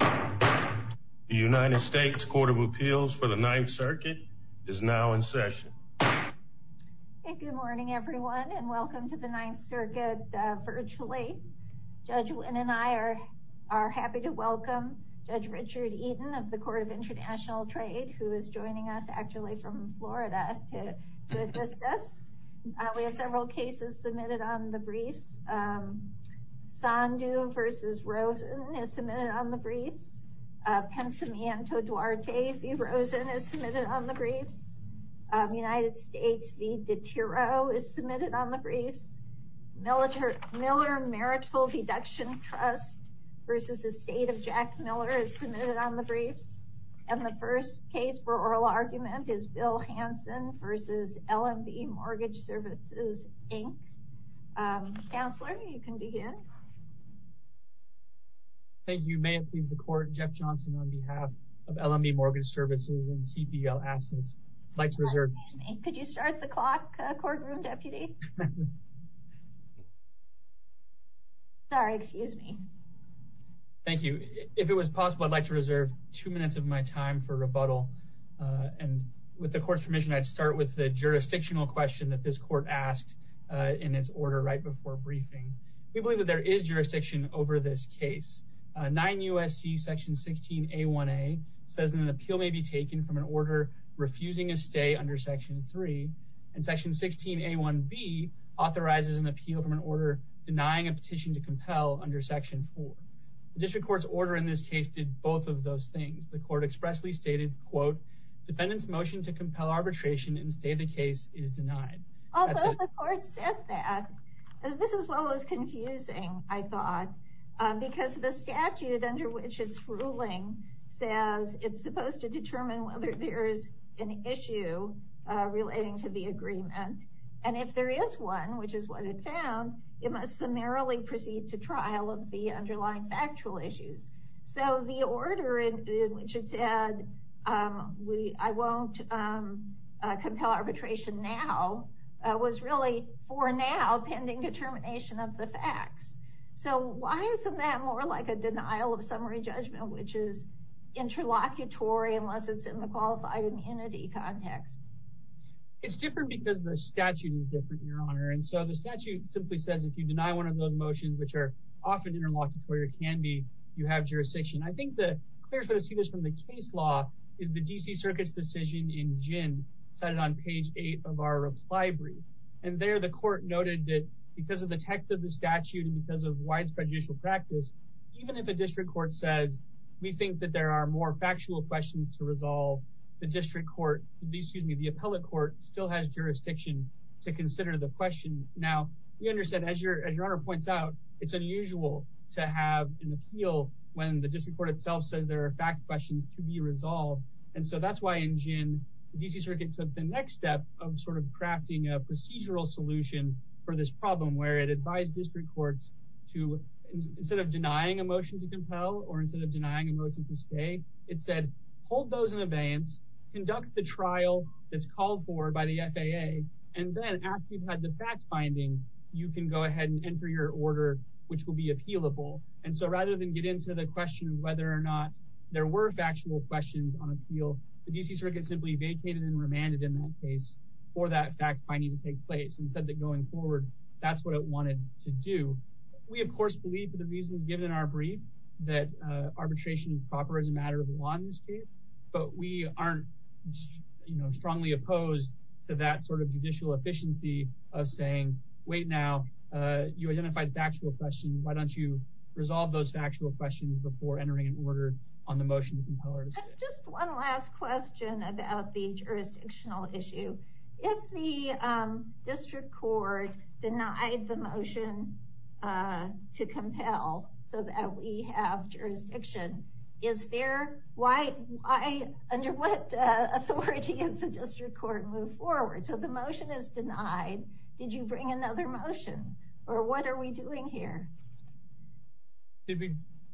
The United States Court of Appeals for the Ninth Circuit is now in session. Good morning everyone and welcome to the Ninth Circuit virtually. Judge Wynn and I are happy to welcome Judge Richard Eaton of the Court of International Trade, who is joining us actually from Florida to assist us. We have several cases submitted on the briefs. Sandu v. Rosen is submitted on the briefs. Pensamiento Duarte v. Rosen is submitted on the briefs. United States v. DeTiro is submitted on the briefs. Miller Marital Deduction Trust v. Estate of Jack Miller is submitted on the briefs. And the first case for oral argument is Bill Hansen v. LMB Mortgage Services, Inc. Counselor, you can begin. Thank you. May it please the Court, Jeff Johnson on behalf of LMB Mortgage Services and CPL Assets, I'd like to reserve... Excuse me, could you start the clock, courtroom deputy? Sorry, excuse me. Thank you. If it was possible, I'd like to reserve two minutes of my time for rebuttal. And with the Court's permission, I'd start with the jurisdictional question that this Court asked in its order right before briefing. We believe that there is jurisdiction over this case. 9 U.S.C. Section 16A1A says that an appeal may be taken from an order refusing a stay under Section 3, and Section 16A1B authorizes an appeal from an order denying a petition to compel under Section 4. The District Court's order in this case did both of those things. The Court expressly stated, quote, defendant's motion to compel arbitration and stay the case is denied. Although the Court said that, this is what was confusing, I thought, because the statute under which it's ruling says it's supposed to determine whether there is an issue relating to the agreement. And if there is one, which is what it found, it must summarily proceed to trial of the underlying factual issues. So the order in which it said, I won't compel arbitration now, was really for now pending determination of the facts. So why isn't that more like a denial of summary judgment, which is interlocutory unless it's in the qualified immunity context? It's different because the statute is different, Your Honor. And so the statute simply says if you deny one of those motions, which are often interlocutory or can be, you have jurisdiction. I think the clearest way to see this from the case law is the D.C. Circuit's decision in Jin, cited on page 8 of our reply brief. And there the Court noted that because of the text of the statute and because of White's prejudicial practice, even if a District Court says, we think that there are more factual questions to resolve, the District Court, excuse me, the Appellate Court still has jurisdiction to consider the question. Now, we understand, as Your Honor points out, it's unusual to have an appeal when the District Court itself says there are fact questions to be resolved. And so that's why in Jin, the D.C. Circuit took the next step of sort of crafting a procedural solution for this problem, where it advised District Courts to, instead of denying a motion to compel or instead of denying a motion to stay, it said hold those in abeyance, conduct the trial that's called for by the FAA, and then after you've had the fact finding, you can go ahead and enter your order, which will be appealable. And so rather than get into the question of whether or not there were factual questions on appeal, the D.C. Circuit simply vacated and remanded in that case for that fact finding to take place and said that going forward, that's what it wanted to do. We, of course, believe for the reasons given in our brief that arbitration is proper as a matter of law in this case, but we aren't strongly opposed to that sort of judicial efficiency of saying wait now, you identified factual questions, why don't you resolve those factual questions before entering an order on the motion to compel or to stay. Just one last question about the jurisdictional issue. If the District Court denied the motion to compel so that we have jurisdiction, under what authority is the District Court moved forward? So the motion is denied. Did you bring another motion or what are we doing here?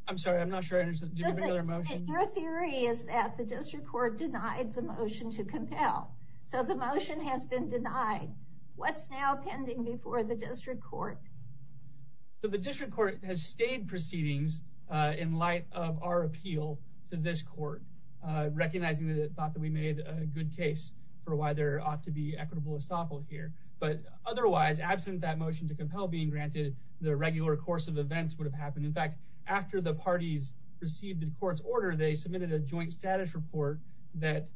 I'm sorry, I'm not sure I understood. Your theory is that the District Court denied the motion to compel. So the motion has been denied. What's now pending before the District Court? The District Court has stayed proceedings in light of our appeal to this court, recognizing that it thought that we made a good case for why there ought to be equitable estoppel here. But otherwise, absent that motion to compel being granted, the regular course of events would have happened. In fact, after the parties received the court's order, they submitted a joint status report that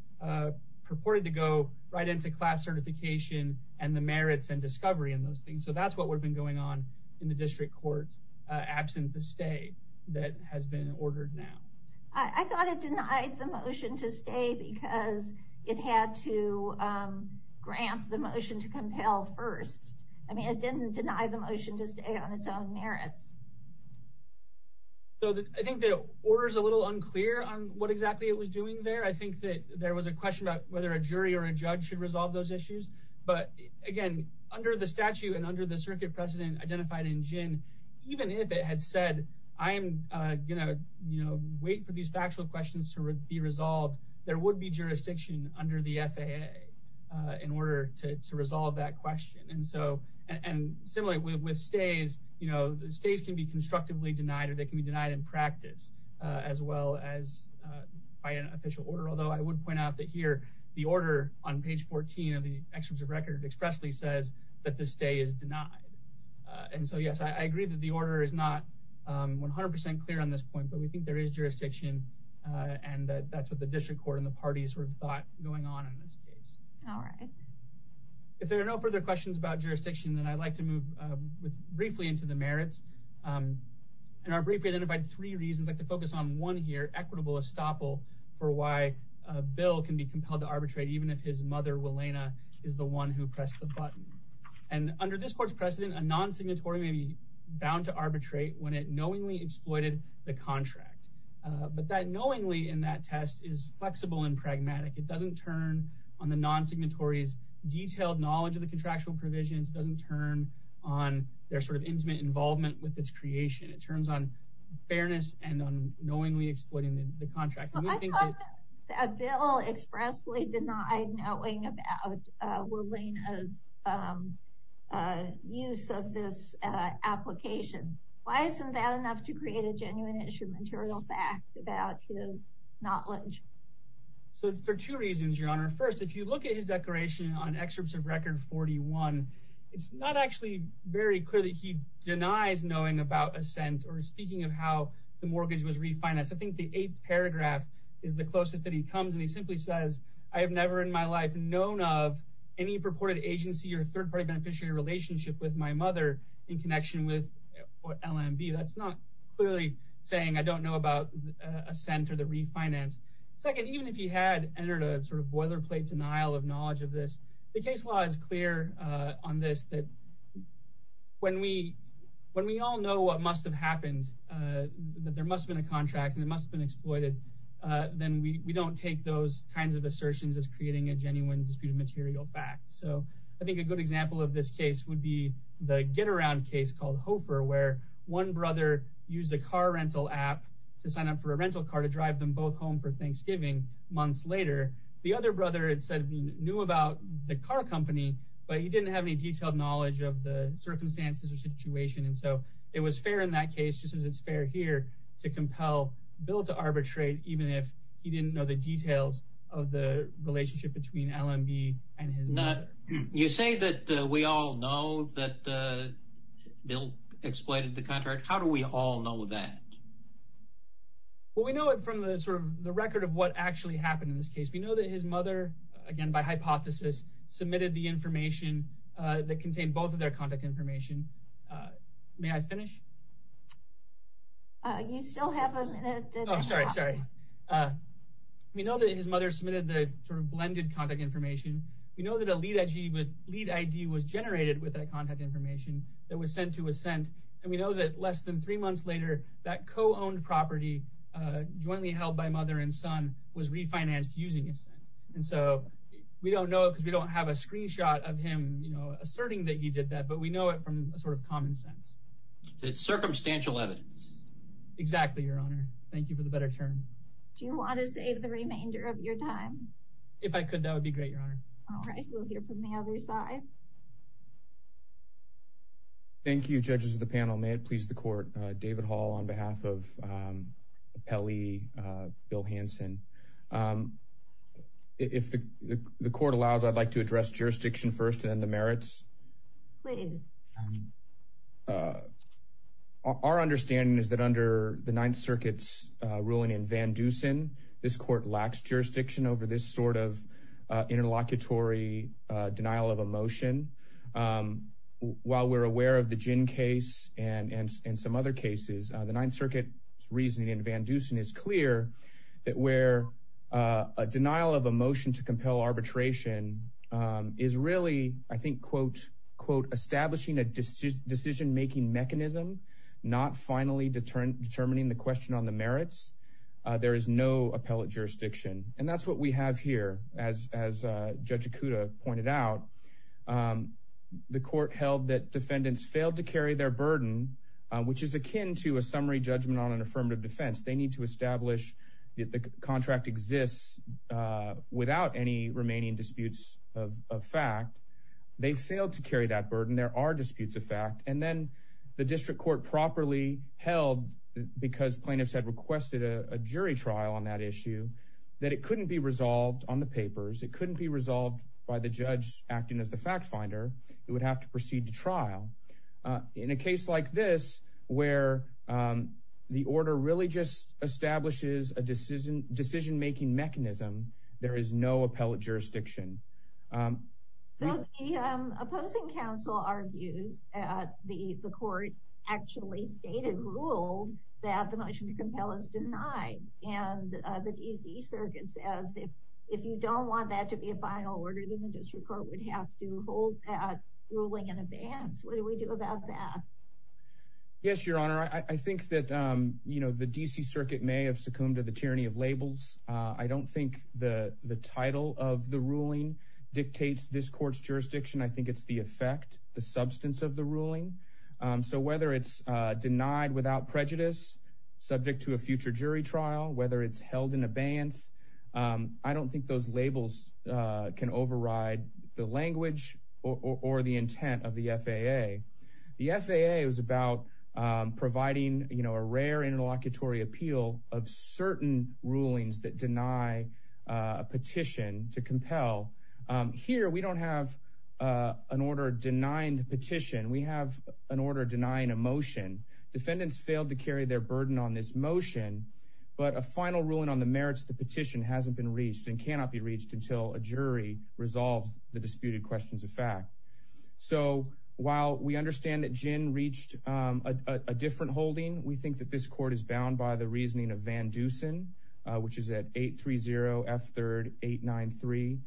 purported to go right into class certification and the merits and discovery and those things. So that's what would have been going on in the District Court, absent the stay that has been ordered now. I thought it denied the motion to stay because it had to grant the motion to compel first. I mean, it didn't deny the motion to stay on its own merits. I think the order is a little unclear on what exactly it was doing there. I think that there was a question about whether a jury or a judge should resolve those issues. But again, under the statute and under the circuit precedent identified in Jin, even if it had said, I'm going to wait for these factual questions to be resolved, there would be jurisdiction under the FAA in order to resolve that question. And so and similarly with stays, you know, stays can be constructively denied or they can be denied in practice as well as by an official order. Although I would point out that here the order on page 14 of the records expressly says that the stay is denied. And so, yes, I agree that the order is not 100 percent clear on this point, but we think there is jurisdiction. And that's what the District Court and the parties were thought going on in this case. All right. If there are no further questions about jurisdiction, then I'd like to move briefly into the merits. In our brief, we identified three reasons like to focus on one here, equitable estoppel for why Bill can be compelled to arbitrate even if his mother, Wilayna, is the one who pressed the button. And under this court's precedent, a non-signatory may be bound to arbitrate when it knowingly exploited the contract. But that knowingly in that test is flexible and pragmatic. It doesn't turn on the non-signatories detailed knowledge of the contractual provisions, doesn't turn on their sort of intimate involvement with its creation. It turns on fairness and on knowingly exploiting the contract. I thought that Bill expressly denied knowing about Wilayna's use of this application. Why isn't that enough to create a genuine issue material fact about his knowledge? So for two reasons, Your Honor. First, if you look at his declaration on excerpts of record 41, it's not actually very clear that he denies knowing about a cent or speaking of how the mortgage was refinanced. I think the eighth paragraph is the closest that he comes. And he simply says, I have never in my life known of any purported agency or third party beneficiary relationship with my mother in connection with LMB. That's not clearly saying I don't know about a cent or the refinance. Second, even if he had entered a sort of boilerplate denial of knowledge of this, the case law is clear on this that when we when we all know what must have happened, that there must have been a contract and it must have been exploited. Then we don't take those kinds of assertions as creating a genuine disputed material fact. So I think a good example of this case would be the get around case called Hofer, where one brother used a car rental app to sign up for a rental car to drive them both home for Thanksgiving months later. The other brother said he knew about the car company, but he didn't have any detailed knowledge of the circumstances or situation. And so it was fair in that case, just as it's fair here to compel Bill to arbitrate, even if he didn't know the details of the relationship between LMB and his mother. You say that we all know that Bill exploited the contract. How do we all know that? Well, we know it from the sort of the record of what actually happened in this case. We know that his mother, again, by hypothesis, submitted the information that contained both of their contact information. May I finish? You still have a minute. Oh, sorry, sorry. We know that his mother submitted the sort of blended contact information. We know that a lead ID was generated with that contact information that was sent to Ascent. And we know that less than three months later, that co-owned property jointly held by mother and son was refinanced using Ascent. And so we don't know because we don't have a screenshot of him asserting that he did that, but we know it from a sort of common sense. It's circumstantial evidence. Exactly, Your Honor. Thank you for the better term. Do you want to save the remainder of your time? If I could, that would be great, Your Honor. All right. We'll hear from the other side. Thank you, judges of the panel. May it please the Court. David Hall on behalf of Appellee Bill Hanson. If the Court allows, I'd like to address jurisdiction first and then the merits. Please. Our understanding is that under the Ninth Circuit's ruling in Van Dusen, this Court lacks jurisdiction over this sort of interlocutory denial of a motion. While we're aware of the Gin case and some other cases, the Ninth Circuit's reasoning in Van Dusen is clear that where a denial of a motion to compel arbitration is really, I think, quote, establishing a decision-making mechanism, not finally determining the question on the merits, there is no appellate jurisdiction. And that's what we have here. As Judge Ikuda pointed out, the Court held that defendants failed to carry their burden, which is akin to a summary judgment on an affirmative defense. They need to establish that the contract exists without any remaining disputes of fact. They failed to carry that burden. There are disputes of fact. And then the district court properly held, because plaintiffs had requested a jury trial on that issue, that it couldn't be resolved on the papers. It couldn't be resolved by the judge acting as the fact finder. It would have to proceed to trial. In a case like this, where the order really just establishes a decision-making mechanism, there is no appellate jurisdiction. So the opposing counsel argues that the Court actually stated, ruled, that the motion to compel is denied. And the D.C. Circuit says, if you don't want that to be a final order, then the district court would have to hold that ruling in abeyance. What do we do about that? Yes, Your Honor. I think that the D.C. Circuit may have succumbed to the tyranny of labels. I don't think the title of the ruling dictates this court's jurisdiction. I think it's the effect, the substance of the ruling. So whether it's denied without prejudice, subject to a future jury trial, whether it's held in abeyance, I don't think those labels can override the language or the intent of the FAA. The FAA was about providing a rare interlocutory appeal of certain rulings that deny a petition to compel. Here, we don't have an order denying the petition. We have an order denying a motion. Defendants failed to carry their burden on this motion. But a final ruling on the merits of the petition hasn't been reached and cannot be reached until a jury resolves the disputed questions of fact. So while we understand that Jinn reached a different holding, we think that this court is bound by the reasoning of Van Dusen, which is at 830-F3-893.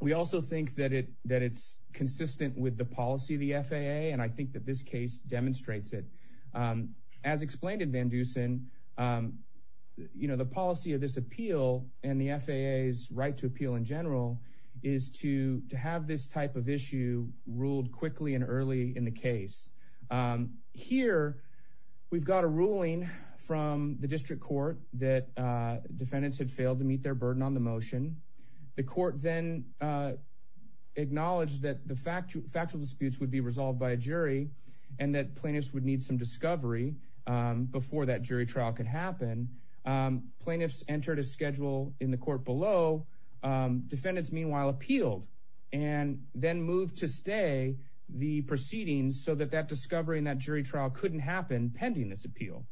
We also think that it's consistent with the policy of the FAA, and I think that this case demonstrates it. As explained in Van Dusen, the policy of this appeal and the FAA's right to appeal in general is to have this type of issue ruled quickly and early in the case. Here, we've got a ruling from the district court that defendants had failed to meet their burden on the motion. The court then acknowledged that the factual disputes would be resolved by a jury and that plaintiffs would need some discovery before that jury trial could happen. Plaintiffs entered a schedule in the court below. Defendants, meanwhile, appealed and then moved to stay the proceedings so that that discovery in that jury trial couldn't happen pending this appeal.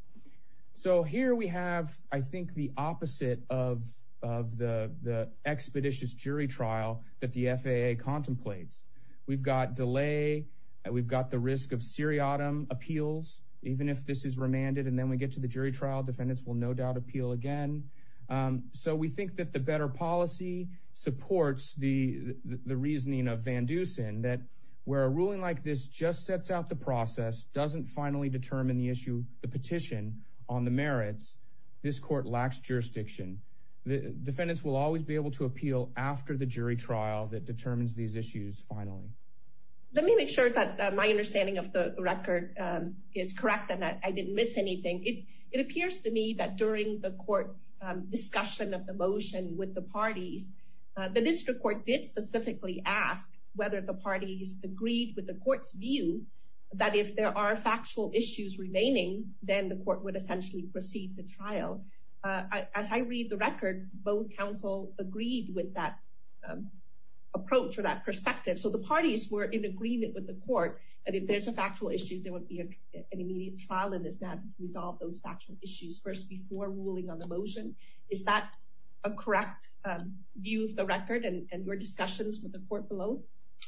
So here we have, I think, the opposite of the expeditious jury trial that the FAA contemplates. We've got delay. We've got the risk of seriatim appeals. Even if this is remanded and then we get to the jury trial, defendants will no doubt appeal again. So we think that the better policy supports the reasoning of Van Dusen, that where a ruling like this just sets out the process, doesn't finally determine the petition on the merits, this court lacks jurisdiction. Defendants will always be able to appeal after the jury trial that determines these issues finally. Let me make sure that my understanding of the record is correct and that I didn't miss anything. It appears to me that during the court's discussion of the motion with the parties, the district court did specifically ask whether the parties agreed with the court's view that if there are factual issues remaining, then the court would essentially proceed the trial. As I read the record, both counsel agreed with that approach or that perspective. So the parties were in agreement with the court that if there's a factual issue, there would be an immediate trial in this matter to resolve those factual issues first before ruling on the motion. Is that a correct view of the record and your discussions with the court below?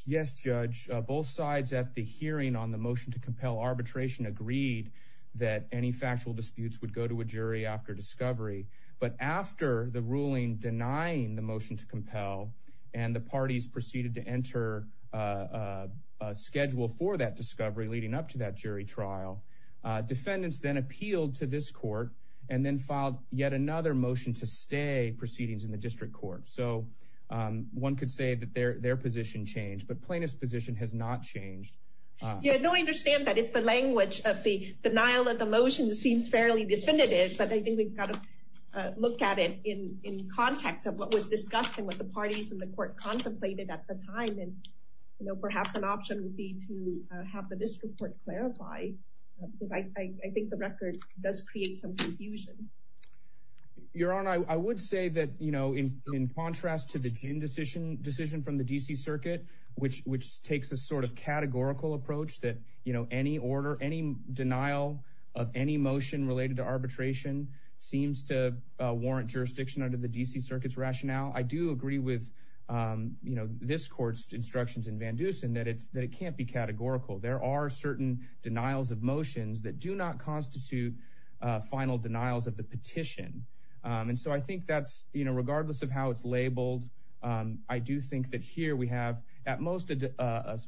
Yes, Judge. Both sides at the hearing on the motion to compel arbitration agreed that any factual disputes would go to a jury after discovery. But after the ruling denying the motion to compel and the parties proceeded to enter a schedule for that discovery leading up to that jury trial, defendants then appealed to this court and then filed yet another motion to stay proceedings in the district court. So one could say that their position changed, but plaintiff's position has not changed. I understand that it's the language of the denial of the motion seems fairly definitive, but I think we've got to look at it in context of what was discussed and what the parties in the court contemplated at the time. And, you know, perhaps an option would be to have the district court clarify. Because I think the record does create some confusion. Your Honor, I would say that, you know, in contrast to the decision from the D.C. Circuit, which takes a sort of categorical approach that, you know, any order, any denial of any motion related to arbitration seems to warrant jurisdiction under the D.C. Circuit's rationale. I do agree with, you know, this court's instructions in Van Dusen that it can't be categorical. There are certain denials of motions that do not constitute final denials of the petition. And so I think that's, you know, regardless of how it's labeled, I do think that here we have at most an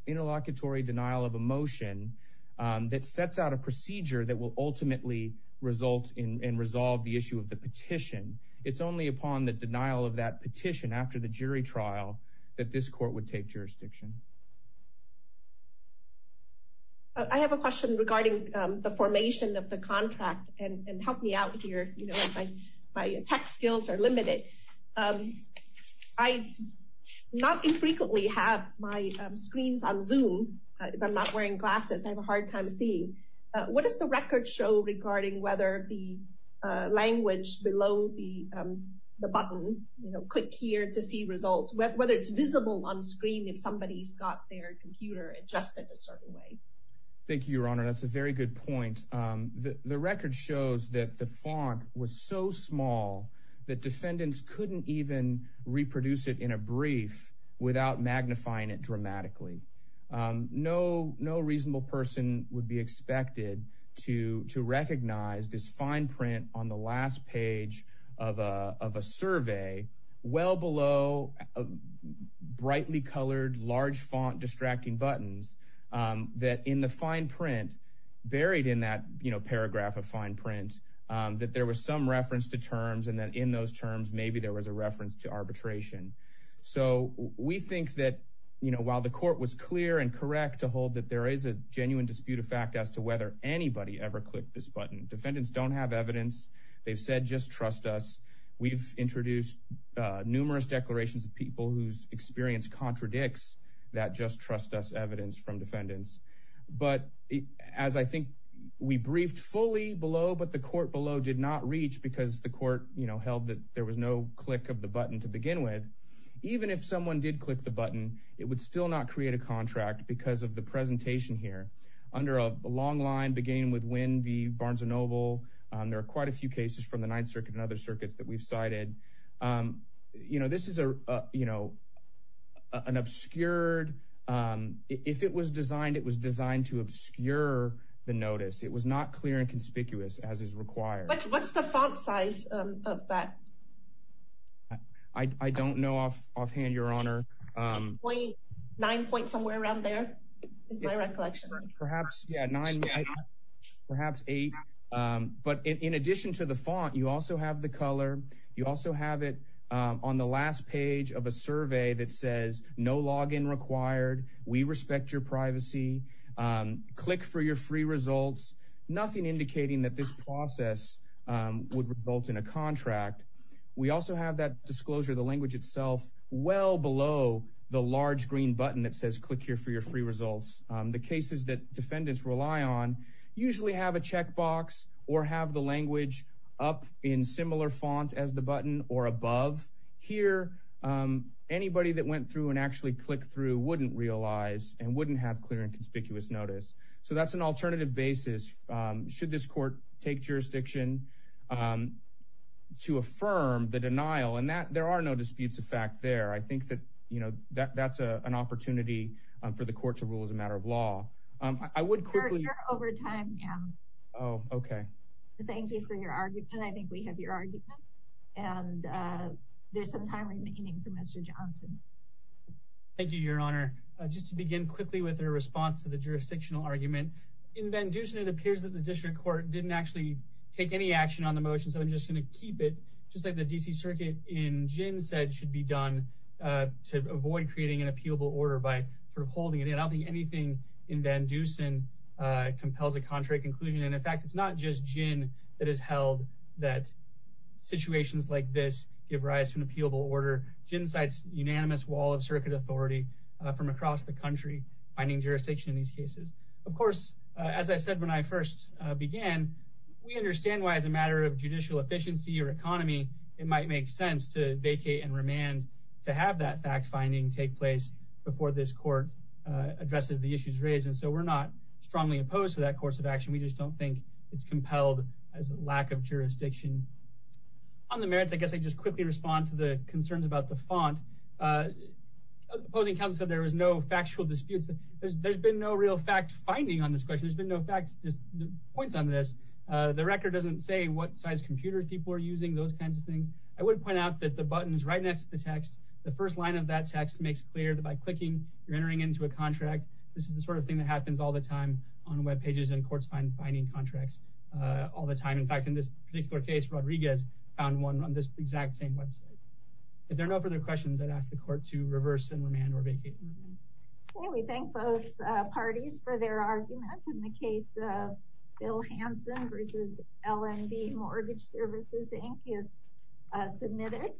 interlocutory denial of a motion that sets out a procedure that will ultimately result in and resolve the issue of the petition. It's only upon the denial of that petition after the jury trial that this court would take jurisdiction. I have a question regarding the formation of the contract. And help me out here, you know, my tech skills are limited. I not infrequently have my screens on Zoom. If I'm not wearing glasses, I have a hard time seeing. What does the record show regarding whether the language below the button, you know, click here to see results, whether it's visible on screen if somebody's got their computer adjusted a certain way? Thank you, Your Honor. That's a very good point. The record shows that the font was so small that defendants couldn't even reproduce it in a brief without magnifying it dramatically. No reasonable person would be expected to recognize this fine print on the last page of a survey well below brightly colored large font distracting buttons that in the fine print buried in that paragraph of fine print that there was some reference to terms and that in those terms maybe there was a reference to arbitration. So we think that, you know, while the court was clear and correct to hold that there is a genuine dispute of fact as to whether anybody ever clicked this button, defendants don't have evidence. They've said just trust us. We've introduced numerous declarations of people whose experience contradicts that just trust us evidence from defendants. But as I think we briefed fully below, but the court below did not reach because the court held that there was no click of the button to begin with, even if someone did click the button, it would still not create a contract because of the presentation here under a long line beginning with when the Barnes & Noble. There are quite a few cases from the Ninth Circuit and other circuits that we've cited. You know, this is a, you know, an obscured. If it was designed, it was designed to obscure the notice. It was not clear and conspicuous as is required. What's the font size of that? I don't know off offhand, Your Honor. 9.9 point somewhere around there is my recollection. Perhaps perhaps eight. But in addition to the font, you also have the color. You also have it on the last page of a survey that says no login required. We respect your privacy. Click for your free results. Nothing indicating that this process would result in a contract. We also have that disclosure, the language itself well below the large green button that says click here for your free results. The cases that defendants rely on usually have a checkbox or have the language up in similar font as the button or above here. Anybody that went through and actually click through wouldn't realize and wouldn't have clear and conspicuous notice. So that's an alternative basis. Should this court take jurisdiction to affirm the denial and that there are no disputes of fact there? I think that, you know, that that's an opportunity for the court to rule as a matter of law. I would quickly over time. Oh, OK. Thank you for your argument. I think we have your argument. And there's some time remaining for Mr. Johnson. Thank you, Your Honor. Just to begin quickly with a response to the jurisdictional argument. It appears that the district court didn't actually take any action on the motion. So I'm just going to keep it just like the D.C. Circuit in gin said should be done to avoid creating an appealable order by holding it. And I'll be anything in Van Dusen compels a contrary conclusion. And in fact, it's not just gin that is held that situations like this give rise to an appealable order. Gin cites unanimous wall of circuit authority from across the country, finding jurisdiction in these cases. Of course, as I said, when I first began, we understand why it's a matter of judicial efficiency or economy. It might make sense to vacate and remand to have that fact finding take place before this court addresses the issues raised. And so we're not strongly opposed to that course of action. We just don't think it's compelled as a lack of jurisdiction on the merits. I guess I just quickly respond to the concerns about the font. Opposing counsel said there was no factual disputes. There's been no real fact finding on this question. There's been no fact points on this. The record doesn't say what size computers people are using, those kinds of things. I would point out that the buttons right next to the text, the first line of that text makes clear that by clicking, you're entering into a contract. This is the sort of thing that happens all the time on Web pages and courts finding contracts all the time. In fact, in this particular case, Rodriguez found one on this exact same Web site. If there are no further questions, I'd ask the court to reverse and remand or vacate and remand. We thank both parties for their arguments in the case of Bill Hanson v. LNB Mortgage Services, Inc. is submitted.